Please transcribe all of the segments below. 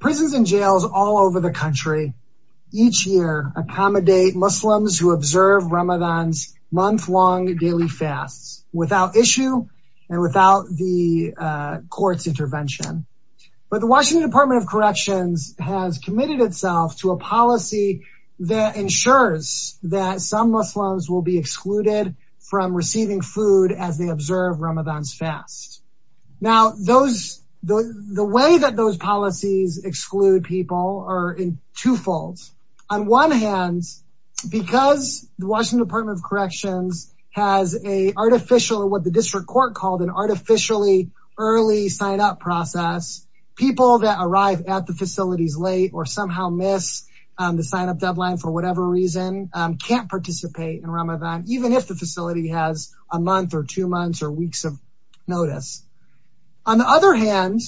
Prisons and jails all over the country each year accommodate Muslims who observe Ramadan's month-long daily fasts without issue and without the court's intervention. But the Washington Department of Corrections has committed itself to a policy that ensures that some Muslims will be excluded from receiving food as they observe Ramadan's fast. Now those the way that those policies exclude people are in two folds. On one hand because the Washington Department of Corrections has a artificial what the district court called an artificially early sign up process people that arrive at the facilities late or somehow miss the sign even if the facility has a month or two months or weeks of notice. On the other hand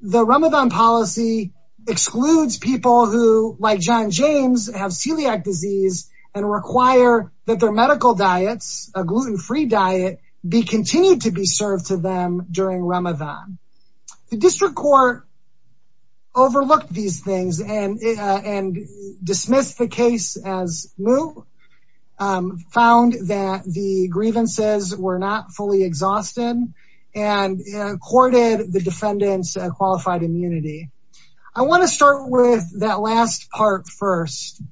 the Ramadan policy excludes people who like John James have celiac disease and require that their medical diets a gluten-free diet be continued to be served to them during Ramadan. The district court overlooked these things and and dismissed the case as moot found that the grievances were not fully exhausted and accorded the defendants a qualified immunity. I want to start with that last part first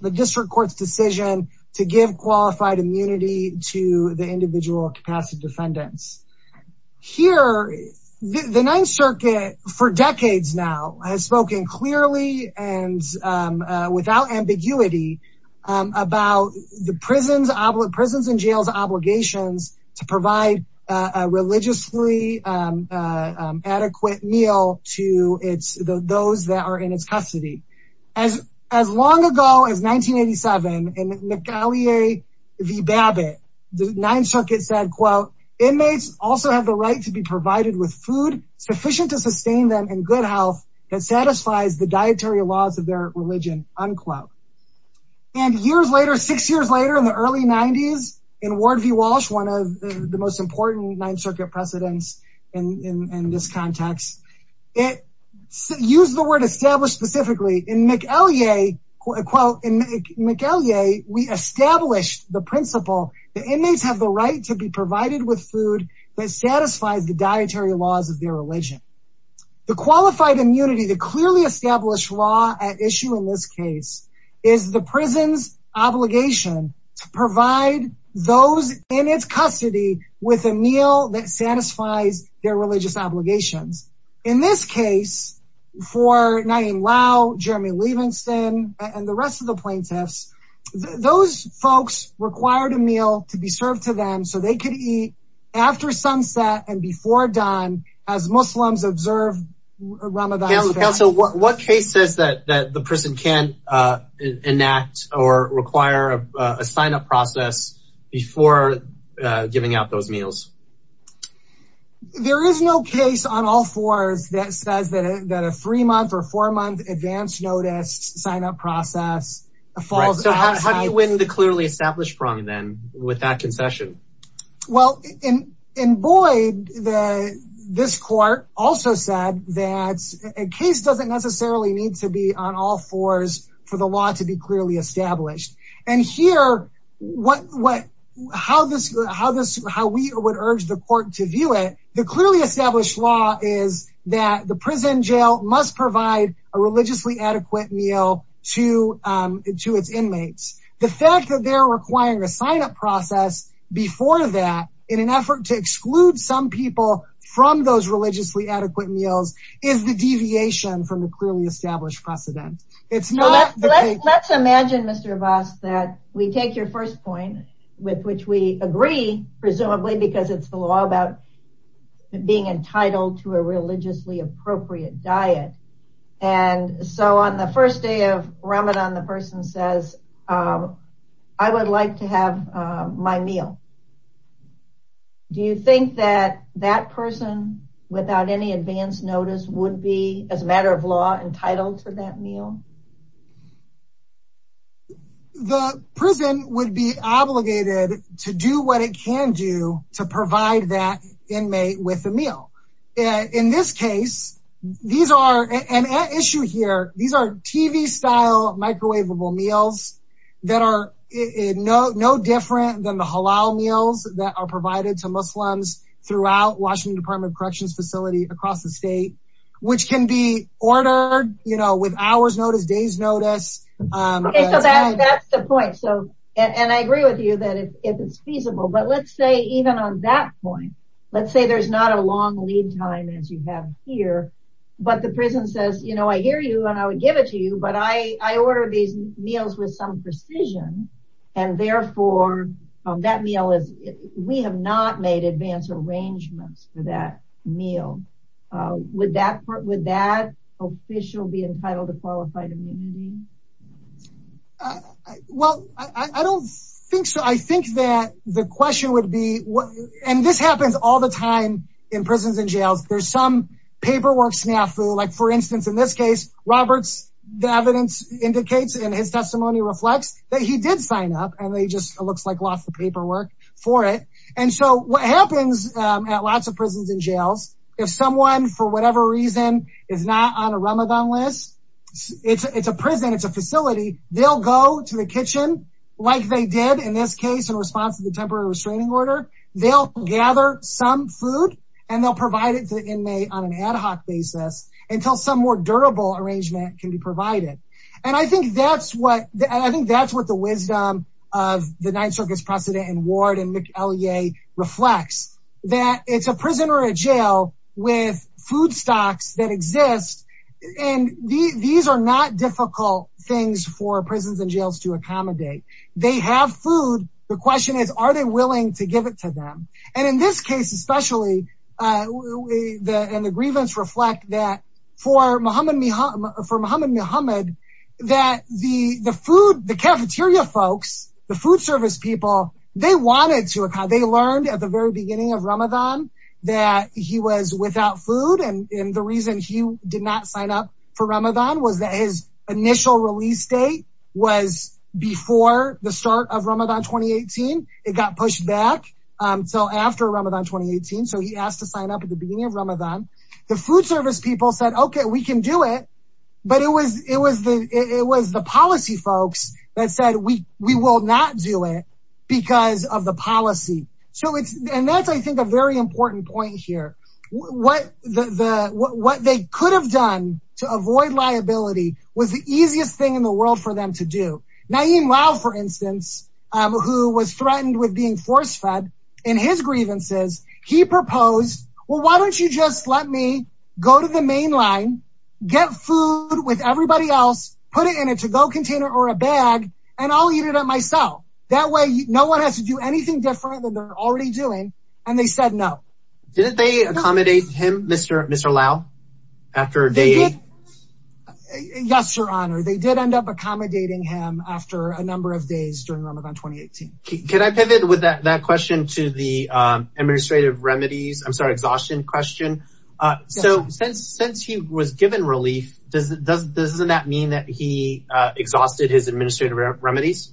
the district courts decision to give qualified immunity to the individual capacity defendants. Here the clearly and without ambiguity about the prisons and jails obligations to provide a religiously adequate meal to its those that are in its custody. As long ago as 1987 in McAleer v. Babbitt the Ninth Circuit said quote inmates also have the right to be provided with food sufficient to sustain them in good health that satisfies the dietary laws of their religion unquote. And years later six years later in the early 90s in Ward v. Walsh one of the most important Ninth Circuit precedents in this context it used the word established specifically in McAleer quote in McAleer we established the principle the inmates have the right to be provided with food that the qualified immunity to clearly establish law at issue in this case is the prison's obligation to provide those in its custody with a meal that satisfies their religious obligations. In this case for Naeem Lau, Jeremy Liebenstein and the rest of the plaintiffs those folks required a so they could eat after sunset and before dawn as Muslims observe Ramadan. So what case says that the person can enact or require a signup process before giving out those meals? There is no case on all fours that says that a three month or four month advance notice signup process How do you win the clearly established prong then with that concession? Well in Boyd the this court also said that a case doesn't necessarily need to be on all fours for the law to be clearly established and here what what how this how this how we would urge the court to view it the clearly inmates. The fact that they're requiring a signup process before that in an effort to exclude some people from those religiously adequate meals is the deviation from the clearly established precedent. It's not let's imagine Mr. Voss that we take your first point with which we agree presumably because it's the law about being entitled to a religiously appropriate diet and so on the first day of Ramadan the person says I would like to have my meal. Do you think that that person without any advance notice would be as a matter of law entitled to that meal? The prison would be obligated to do what it can do to provide that inmate with a meal. In this case these are an issue here these are TV style microwavable meals that are no different than the halal meals that are provided to Muslims throughout Washington Department of Corrections facility across the state which can be ordered you know with hours notice days notice. That's the point so and I agree with you that if it's feasible but let's say even on that point let's say there's not a long lead time as you have here but the prison says you know I hear you and I would give it to you but I order these meals with some precision and therefore that meal is we have not made advance arrangements for that meal. Would that part would that official be entitled to qualified immunity? Well I don't think so I think that the question would be what and this happens all the time in prisons and jails there's some paperwork snafu like for instance in this case Roberts the evidence indicates and his testimony reflects that he did sign up and they just it looks like lost the paperwork for it and so what happens at lots of prisons and jails if someone for whatever reason is not on a Ramadan list it's a prison it's a facility they'll go to the kitchen like they did in this case in response to the temporary restraining order they'll gather some food and they'll provide it to the inmate on an ad hoc basis until some more durable arrangement can be provided and I think that's what I think that's what the wisdom of the Ninth Circus precedent and Ward and McElyea reflects that it's a prisoner at jail with food stocks that exist and these are not difficult things for are they willing to give it to them and in this case especially the and the grievance reflect that for Muhammad Muhammad that the the food the cafeteria folks the food service people they wanted to account they learned at the very beginning of Ramadan that he was without food and in the reason he did not sign up for Ramadan was that his initial release date was before the got pushed back so after Ramadan 2018 so he asked to sign up at the beginning of Ramadan the food service people said okay we can do it but it was it was the it was the policy folks that said we we will not do it because of the policy so it's and that's I think a very important point here what the what they could have done to avoid liability was the easiest thing in the world for them to do Naeem Lau for instance who was threatened with being force-fed in his grievances he proposed well why don't you just let me go to the main line get food with everybody else put it in a to-go container or a bag and I'll eat it up myself that way no one has to do anything different than they're already doing and they said no did they accommodate him Mr. Mr. Lau after day eight yes your honor they did end up accommodating him after a number of days during Ramadan 2018 can I pivot with that that question to the administrative remedies I'm sorry exhaustion question so since since he was given relief does it does doesn't that mean that he exhausted his administrative remedies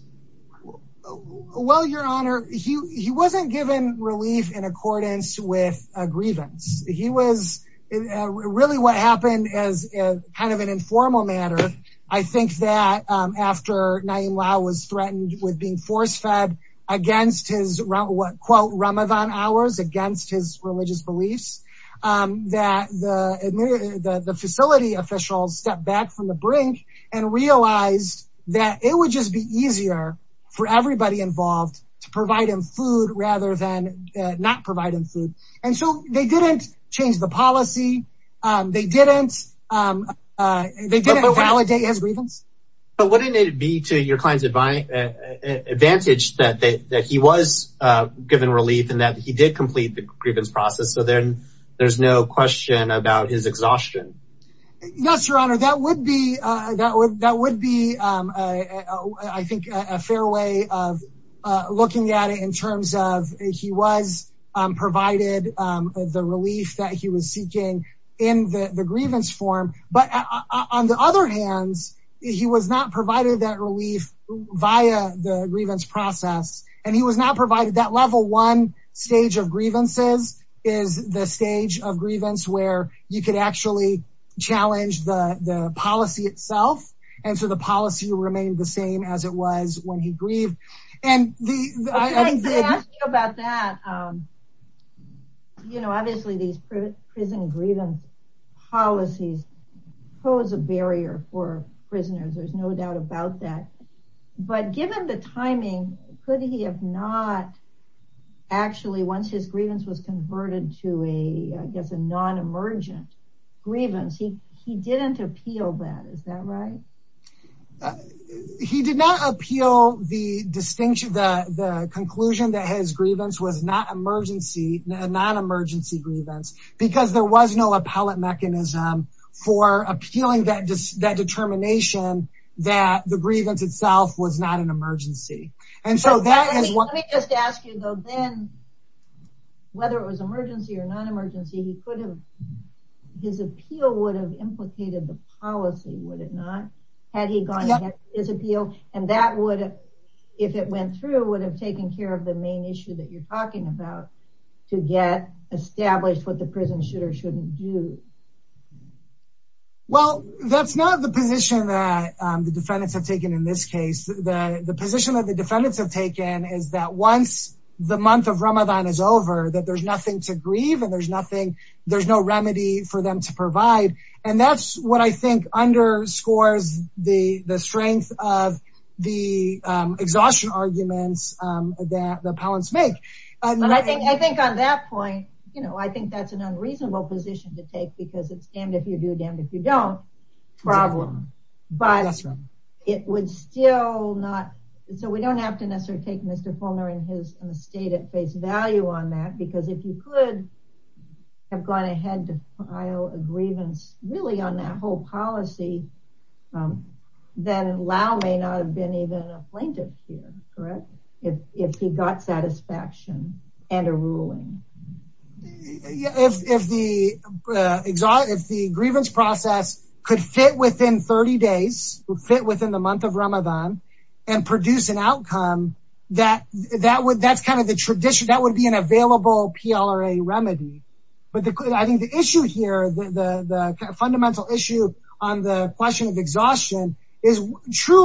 well your honor he wasn't given relief in accordance with a grievance he was really what happened as kind of an informal matter I think that after Naeem Lau was threatened with being force-fed against his what quote Ramadan hours against his religious beliefs that the facility officials stepped back from the brink and realized that it would just be easier for everybody involved to provide him food rather than not providing food and so they didn't change the policy they didn't they didn't validate his grievance but wouldn't it be to your clients advice advantage that they that he was given relief and that he did complete the grievance process so then there's no question about his exhaustion yes your honor that would be that would that would be I think a fair way of looking at it in terms of he was provided the relief that he was seeking in the the grievance form but on the other hands he was not provided that relief via the grievance process and he was not provided that level one stage of grievances is the stage of grievance where you could actually challenge the the policy itself and so the policy remained the same as it was when he grieved and you know obviously these prison grievance policies pose a barrier for prisoners there's no doubt about that but given the timing could he have not actually once his grievance was converted to a guess a non-emergent grievance he he didn't appeal that is that right he did not appeal the distinction the conclusion that his grievance was not emergency non-emergency grievance because there was no itself was not an emergency and so that is what we just asked you though then whether it was emergency or non-emergency he could have his appeal would have implicated the policy would it not had he gone his appeal and that would if it went through would have taken care of the main issue that you're talking about to get established what the prison should or shouldn't do well that's not the position that the defendants have taken in this case the the position that the defendants have taken is that once the month of Ramadan is over that there's nothing to grieve and there's nothing there's no remedy for them to provide and that's what I think underscores the the strength of the exhaustion arguments that the appellants make and I think I think on that point you know but it would still not so we don't have to necessarily take mr. Palmer in his state at face value on that because if you could have gone ahead to file a grievance really on that whole policy then allow may not have been even a plaintiff here correct if he got satisfaction and a ruling if the exotic the grievance process could fit within 30 days fit within the month of Ramadan and produce an outcome that that would that's kind of the tradition that would be an available PLRA remedy but the I think the issue here the fundamental issue on the question of who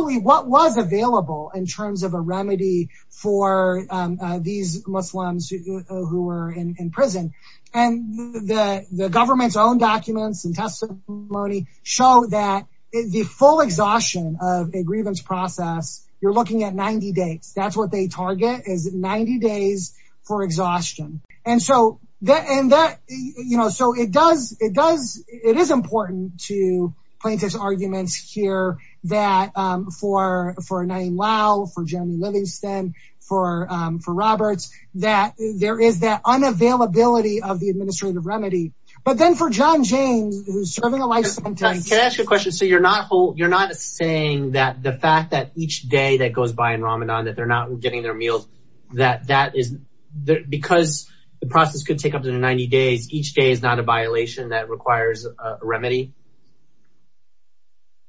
were in prison and the government's own documents and testimony show that the full exhaustion of a grievance process you're looking at 90 days that's what they target is 90 days for exhaustion and so that and that you know so it does it does it is important to plaintiff's hear that for for a name Wow for Jeremy Livingston for for Roberts that there is that unavailability of the administrative remedy but then for John James you're not saying that the fact that each day that goes by in Ramadan that they're not getting their meals that that is there because the process could take up to 90 days each day is not a violation that requires a remedy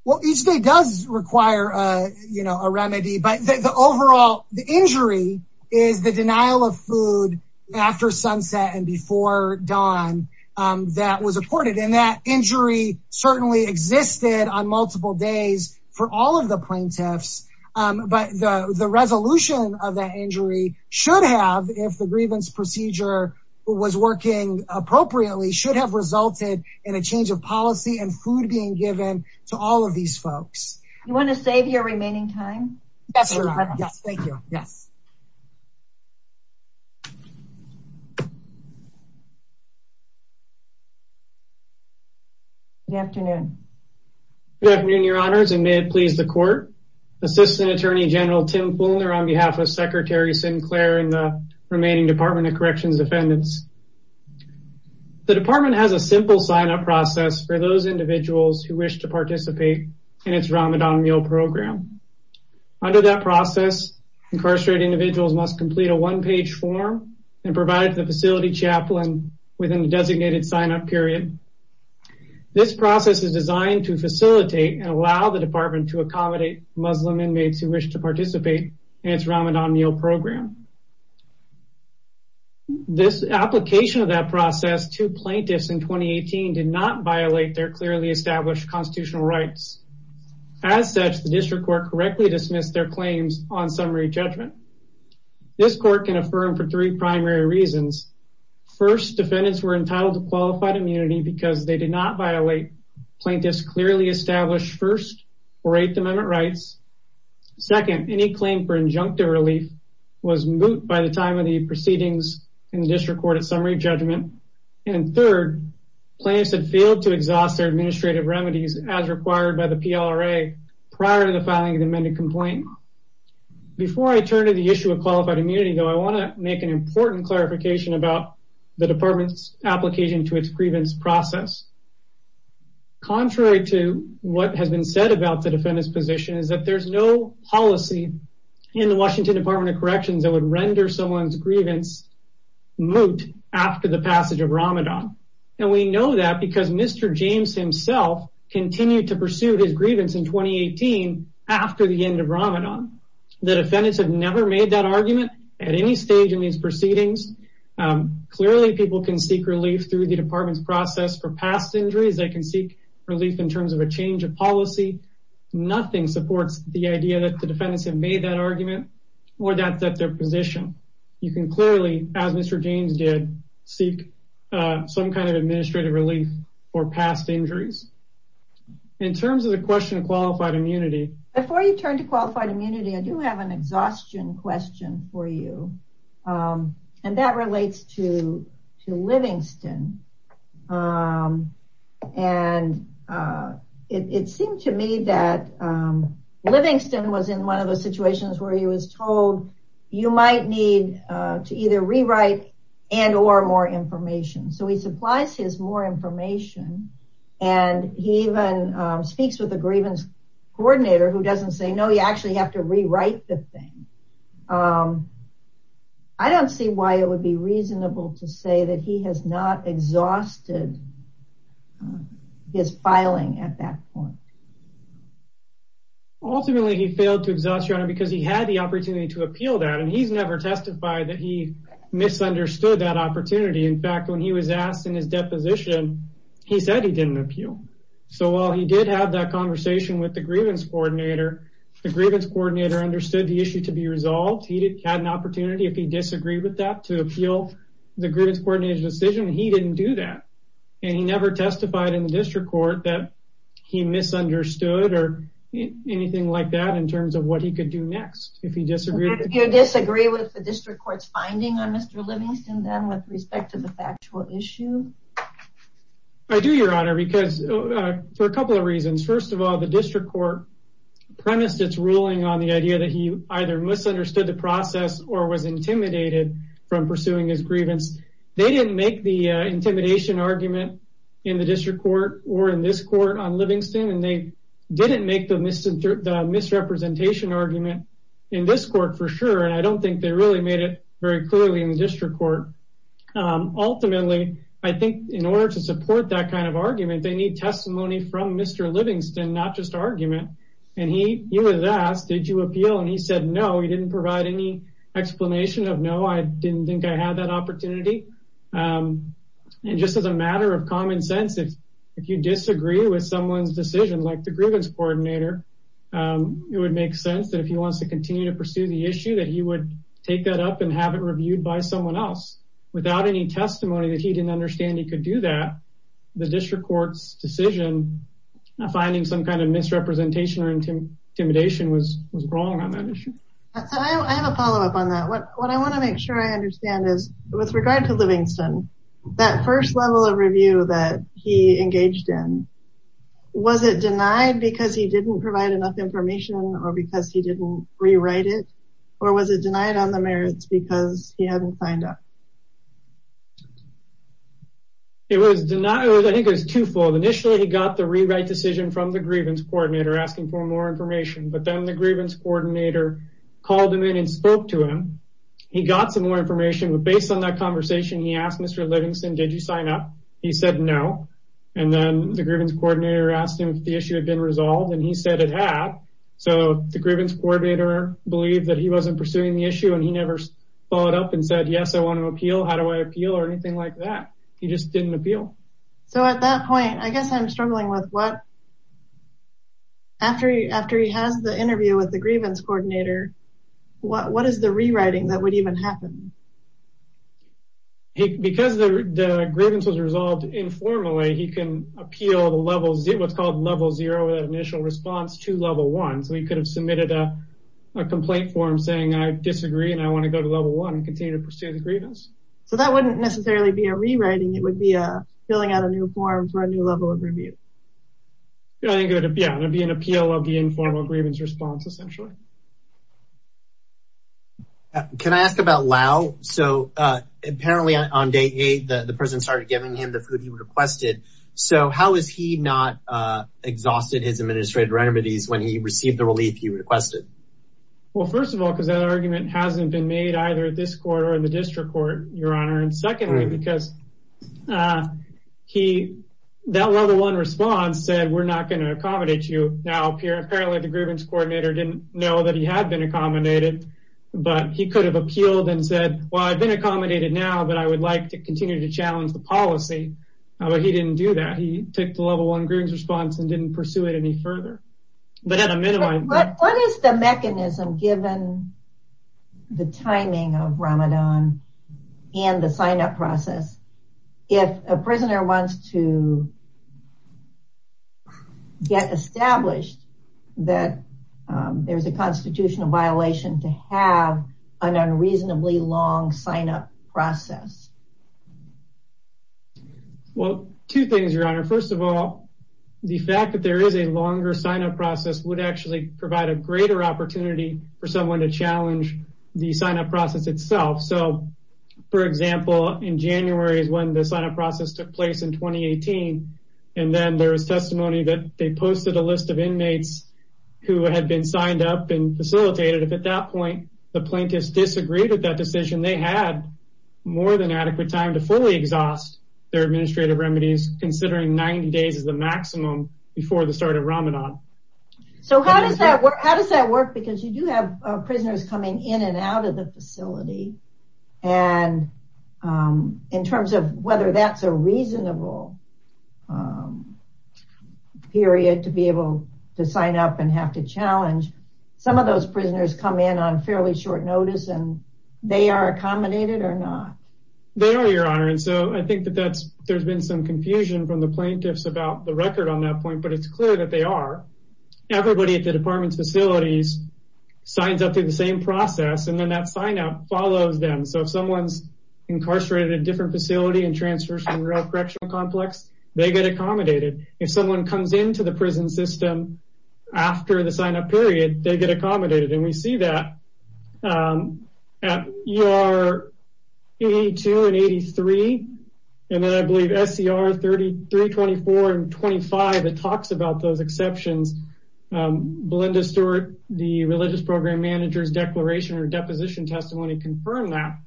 well each day does require a you know a remedy but the overall the injury is the denial of food after sunset and before dawn that was afforded and that injury certainly existed on multiple days for all of the plaintiffs but the the resolution of that injury should have if the food being given to all of these folks you want to save your remaining time yes good afternoon good afternoon your honors and may it please the court assistant attorney general Tim Fulner on behalf of Secretary Sinclair and the remaining Department of Corrections defendants the department has a simple sign up process for those individuals who wish to participate in its Ramadan meal program under that process incarcerated individuals must complete a one page form and provide the facility chaplain within the designated sign up period this process is designed to facilitate and allow the department to accommodate Muslim inmates who wish to participate in its Ramadan meal program this application of that process to plaintiffs in 2018 did not violate their clearly established constitutional rights as such the district court correctly dismissed their claims on summary judgment this court can affirm for three primary reasons first defendants were entitled to qualified immunity because they did not violate plaintiffs clearly established first or eighth amendment rights second any claim for injunctive relief was moot by the time of the proceedings in the district court at summary judgment and third plaintiffs had failed to exhaust their administrative remedies as required by the PLRA prior to the filing of the amended complaint before I turn to the issue of qualified immunity though I want to make an important clarification about the department's application to its grievance process contrary to what has been said about the defendant's position is that there's no policy in the Washington Department of Corrections that would render someone's grievance moot after the passage of Ramadan and we know that because Mr. James himself continued to pursue his grievance in 2018 after the end of Ramadan the defendants have never made that argument at any stage in these proceedings clearly people can seek relief through the department's process for past injuries they can seek relief in terms of a change of policy nothing supports the idea that the defendants have made that argument or that that their position you can clearly as Mr. James did seek some kind of administrative relief for past injuries in terms of the question of qualified immunity before you turn to qualified immunity I do have an exhaustion question for you and that relates to to Livingston and it seemed to me that Livingston was in one of the situations where he was told you might need to either rewrite and or more information so he supplies his more information and he even speaks with the grievance coordinator who doesn't say no you actually have to rewrite the thing I don't see why it would be reasonable to say that he has not exhausted his filing at that point ultimately he failed to exhaust your honor because he had the opportunity to appeal that and he's never testified that he misunderstood that opportunity in fact when he was asked in his deposition he said he didn't appeal so while he did have that conversation with the grievance coordinator the grievance coordinator understood the issue to be resolved he had an opportunity if he disagreed with that to appeal the grievance coordinator's decision he didn't do that and he testified in the district court that he misunderstood or anything like that in terms of what he could do next if he disagreed you disagree with the district court's finding on Mr. Livingston then with respect to the factual issue I do your honor because for a couple of reasons first of all the district court premised its ruling on the idea that he either misunderstood the process or was intimidated from pursuing his grievance they didn't make the intimidation argument in the district court or in this court on Livingston and they didn't make the misrepresentation argument in this court for sure and I don't think they really made it very clearly in the district court ultimately I think in order to support that kind of argument they need testimony from Mr. Livingston not just argument and he was asked did you appeal and he said no he didn't provide any explanation of no I didn't think I had that opportunity and just as a matter of common sense if you disagree with someone's decision like the grievance coordinator it would make sense that if he wants to continue to pursue the issue that he would take that up and have it reviewed by someone else without any testimony that he didn't understand he could do that the district court's decision finding some kind of misrepresentation or intimidation was was wrong on that issue I have a follow-up on that what I want to make sure I understand is with regard to Livingston that first level of review that he engaged in was it denied because he didn't provide enough information or because he didn't rewrite it or was it denied on the merits because he hadn't signed up it was denied I think it was twofold initially he got the rewrite decision from the grievance coordinator asking for more information but then the grievance coordinator called him in and spoke to him he got some more information but based on that conversation he asked Mr. Livingston did you sign up he said no and then the grievance coordinator asked him if the issue had been resolved and he said it had so the grievance coordinator believed that he wasn't pursuing the issue and he never followed up and said yes I want to appeal how do I appeal or anything like that he just didn't appeal so at that point I guess I'm struggling with what after after he has the interview with the grievance coordinator what what is the rewriting that would even happen because the grievance was resolved informally he can appeal the level zero it's called level zero that initial response to level one so he could have submitted a complaint form saying I disagree and I want to go to level one and continue to pursue the grievance so that wouldn't necessarily be a rewriting it would be a filling out a new form for a new level of review yeah I think it would be an appeal of the informal grievance response essentially can I ask about Lau so apparently on day eight the person started giving him the food he requested so how is he not exhausted his administrative remedies when he received the relief he requested well first of all because that argument hasn't been made either at this court or in the district court your honor and secondly because he that level one response said we're not going to accommodate you now apparently the grievance coordinator didn't know that he had been accommodated but he could have appealed and said well I've been accommodated now but I would like to continue to challenge the policy but he didn't do that he took the level one grievance response and didn't pursue it any further but at a minimum what is the mechanism given the timing of Ramadan and the signup process if a prisoner wants to get established that there's a constitutional violation to have an unreasonably long signup process well two things your honor first of all the fact that there is a longer signup process would actually provide a greater opportunity for someone to challenge the signup process itself so for example in January is when the signup process took place in 2018 and then there was testimony that they posted a list of inmates who had been signed up and facilitated if at that point the plaintiffs disagreed with that decision they had more than adequate time to fully exhaust their administrative remedies considering 90 days is the maximum before the start of Ramadan so how does that work how does that work because you do have prisoners coming in and out of the facility and in terms of whether that's a reasonable period to be able to sign up and have to challenge some of those prisoners come in on fairly short notice and they are accommodated or not they are your honor and so I think that that's there's been some confusion from the department facilities signs up to the same process and then that signup follows them so if someone's incarcerated in a different facility and transfers from the correctional complex they get accommodated if someone comes into the prison system after the signup period they get accommodated and we see that at ER 82 and 83 and then I believe SCR 33, 24 and 25 it talks about those exceptions Belinda Stewart the religious program manager's declaration or deposition testimony confirmed that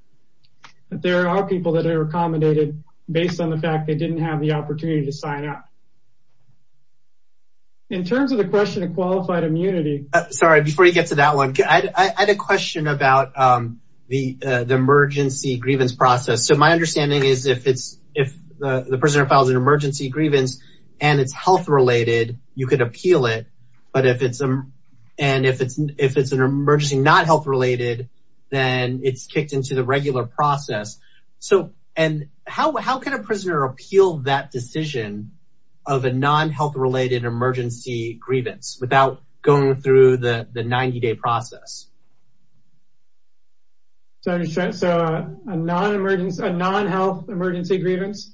there are people that are accommodated based on the fact they didn't have the opportunity to sign up in terms of the question of qualified immunity sorry before you get to that one I had a question about the the emergency grievance process so my understanding is if it's if the prisoner files an emergency grievance and it's health-related you could appeal it but if it's um and if it's if it's an emergency not health-related then it's kicked into the regular process so and how how can a prisoner appeal that decision of a non-health related emergency grievance without going through the the 90-day process? So a non-emergency a non-health emergency grievance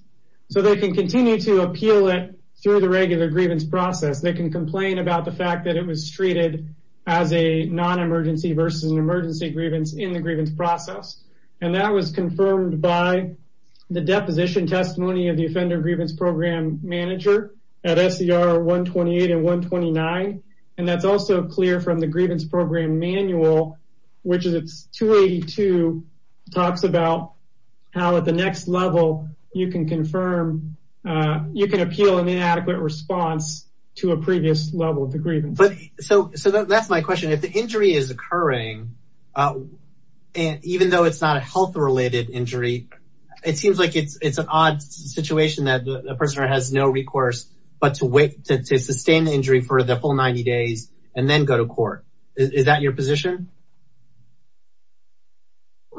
so they can continue to appeal it through the regular grievance process they can complain about the fact that it was treated as a non-emergency versus an emergency grievance in the grievance process and that was confirmed by the deposition testimony of the offender grievance program manager at SCR 128 and 129 and that's also clear from the grievance program manual which is it's 282 talks about how at the next level you can confirm you can appeal an inadequate response to a previous level of the grievance. But so so that's my question if the injury is occurring and even though it's not a health related injury it seems like it's it's an odd situation that the person has no recourse but to wait to sustain the injury for the full 90 days and then go to court is that your position?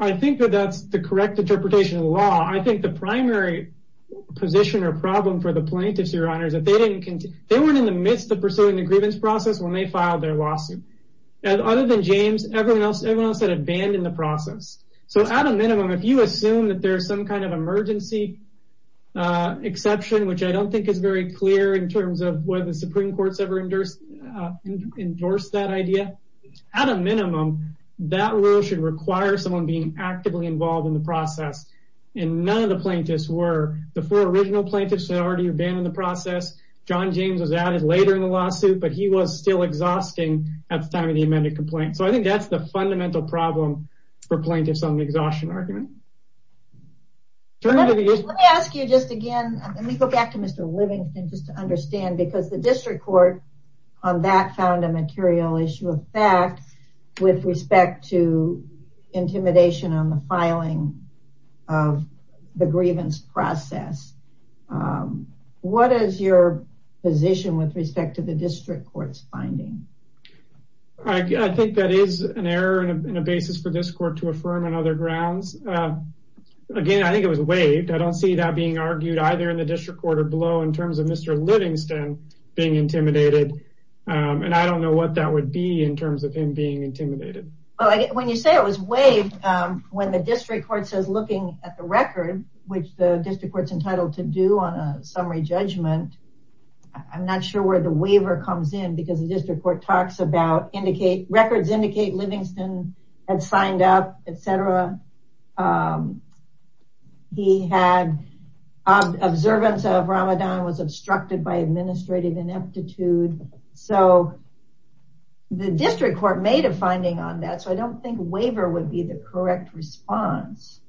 I think that that's the correct interpretation of the law I think the primary position or problem for the plaintiffs your honor is that they didn't they weren't in the midst of pursuing the grievance process when they filed their lawsuit and other than James everyone else everyone else had abandoned the process so at a minimum if you assume that there's some kind of emergency exception which I don't think is very clear in terms of whether the supreme court's endorsed that idea at a minimum that rule should require someone being actively involved in the process and none of the plaintiffs were the four original plaintiffs had already abandoned the process John James was added later in the lawsuit but he was still exhausting at the time of the amended complaint so I think that's the fundamental problem for plaintiffs on the exhaustion argument. Let me ask you just again let me go back to Mr. Livingston just to understand because the district court on that found a material issue of fact with respect to intimidation on the filing of the grievance process what is your position with respect to the district court's finding? I think that is an error and a basis for this court to affirm on other grounds again I think it was waived I don't see that being argued either in the district court or below in and I don't know what that would be in terms of him being intimidated. Well when you say it was waived when the district court says looking at the record which the district court's entitled to do on a summary judgment I'm not sure where the waiver comes in because the district court talks about indicate records indicate Livingston had signed up etc he had observance of Ramadan was obstructed by administrative ineptitude so the district court made a finding on that so I don't think waiver would be the correct response.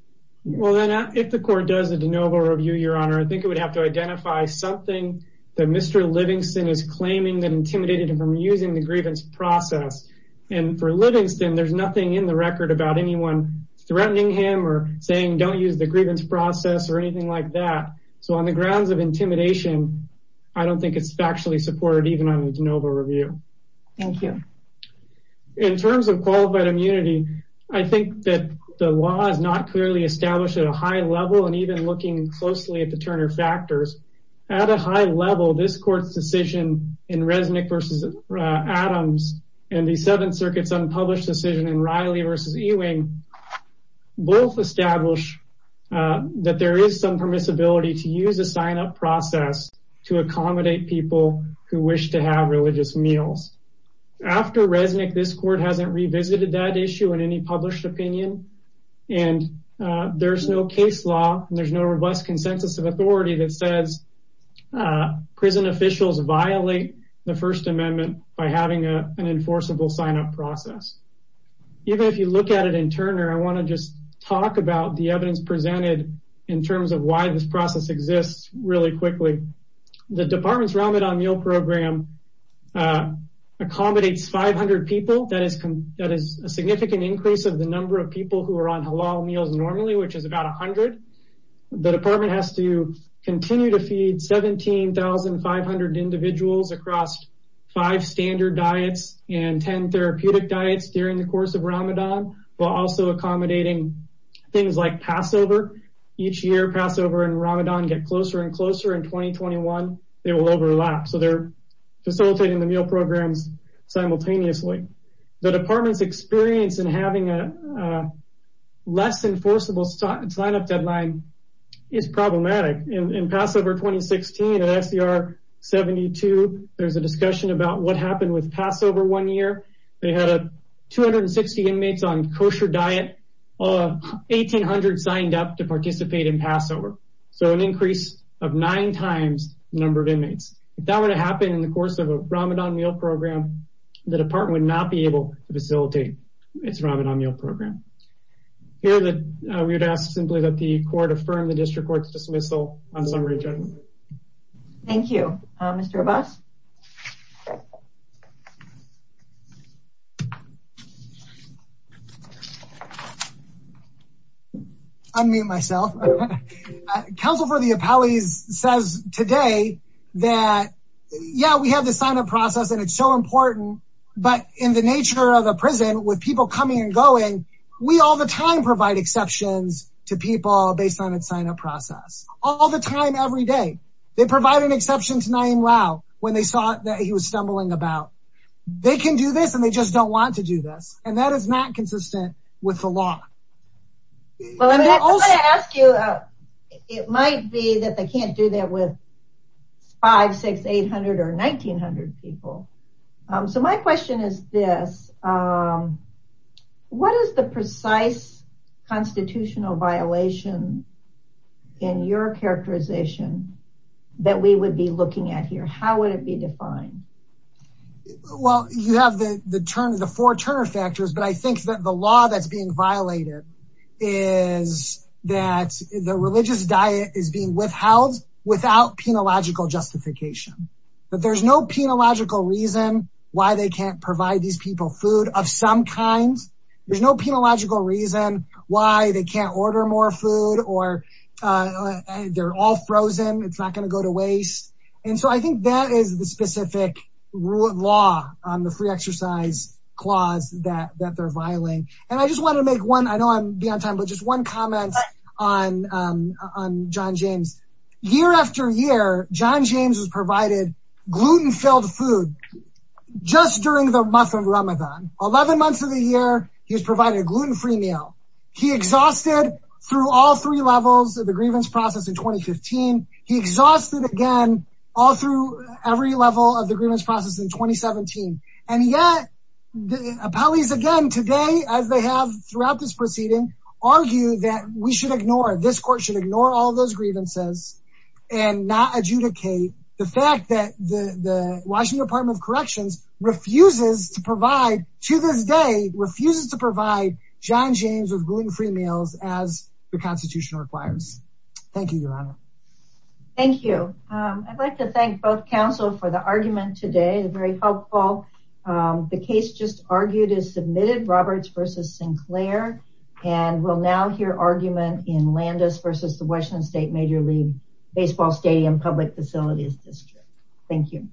Well then if the court does a de novo review your honor I think it would have to identify something that Mr. Livingston is claiming that intimidated him from using the grievance process and for Livingston there's nothing in the record about anyone threatening him or saying don't use the grievance process or anything like that so on the grounds of intimidation I don't think it's factually supported even on the de novo review. Thank you. In terms of qualified immunity I think that the law is not clearly established at a high level and even looking closely at the circuit's unpublished decision in Riley versus Ewing both establish that there is some permissibility to use a sign up process to accommodate people who wish to have religious meals. After Resnick this court hasn't revisited that issue in any published opinion and there's no case law there's no robust consensus of authority that says prison officials violate the First Amendment by having an enforceable sign up process. Even if you look at it in Turner I want to just talk about the evidence presented in terms of why this process exists really quickly. The department's Ramadan meal program accommodates 500 people that is a significant increase of the number of people who are on halal meals normally which is about 100. The department has to continue to feed 17,500 individuals across five standard diets and 10 therapeutic diets during the course of Ramadan while also accommodating things like Passover. Each year Passover and Ramadan get closer and closer in 2021 they will overlap so they're facilitating the meal programs simultaneously. The department's experience in having a less enforceable sign up deadline is problematic. In Passover 2016 at SCR 72 there's a discussion about what happened with Passover one year they had a 260 inmates on kosher diet all 1,800 signed up to participate in Passover so an increase of nine times the number of inmates. If that were to happen in the course of a Ramadan meal program the department would not be able to facilitate its Ramadan meal program. Here that we would ask simply that the court affirm the district court's dismissal on summary judgment. Thank you. Mr. Abbas. I unmute myself. Council for the Appellees says today that yeah we have the sign up process and so important but in the nature of the prison with people coming and going we all the time provide exceptions to people based on its sign up process all the time every day. They provide an exception to Nayeem Rao when they saw that he was stumbling about. They can do this and they just don't want to do this and that is not consistent with the law. Well I'm going to ask you it might be that can't do that with 5, 6, 800 or 1,900 people. So my question is this what is the precise constitutional violation in your characterization that we would be looking at here? How would it be defined? Well you have the four Turner factors but I think that the law that's being violated is that the religious diet is being withheld without penological justification but there's no penological reason why they can't provide these people food of some kind. There's no penological reason why they can't order more food or they're all frozen it's not going to go to waste and so I think that is the specific rule of law on the free exercise clause that that they're beyond time but just one comment on John James. Year after year John James has provided gluten filled food just during the month of Ramadan. 11 months of the year he's provided a gluten free meal. He exhausted through all three levels of the grievance process in 2015. He exhausted again all through every level of the grievance process in 2017 and yet the appellees again today as they have throughout this proceeding argue that we should ignore this court should ignore all those grievances and not adjudicate the fact that the the Washington Department of Corrections refuses to provide to this day refuses to provide John James with gluten free meals as the constitution requires. Thank you Your Honor. Thank you. I'd like to thank both counsel for the argument today very helpful. The case just argued is submitted Roberts versus Sinclair and we'll now hear argument in Landis versus the Washington State Major League Baseball Stadium Public Facilities District. Thank you.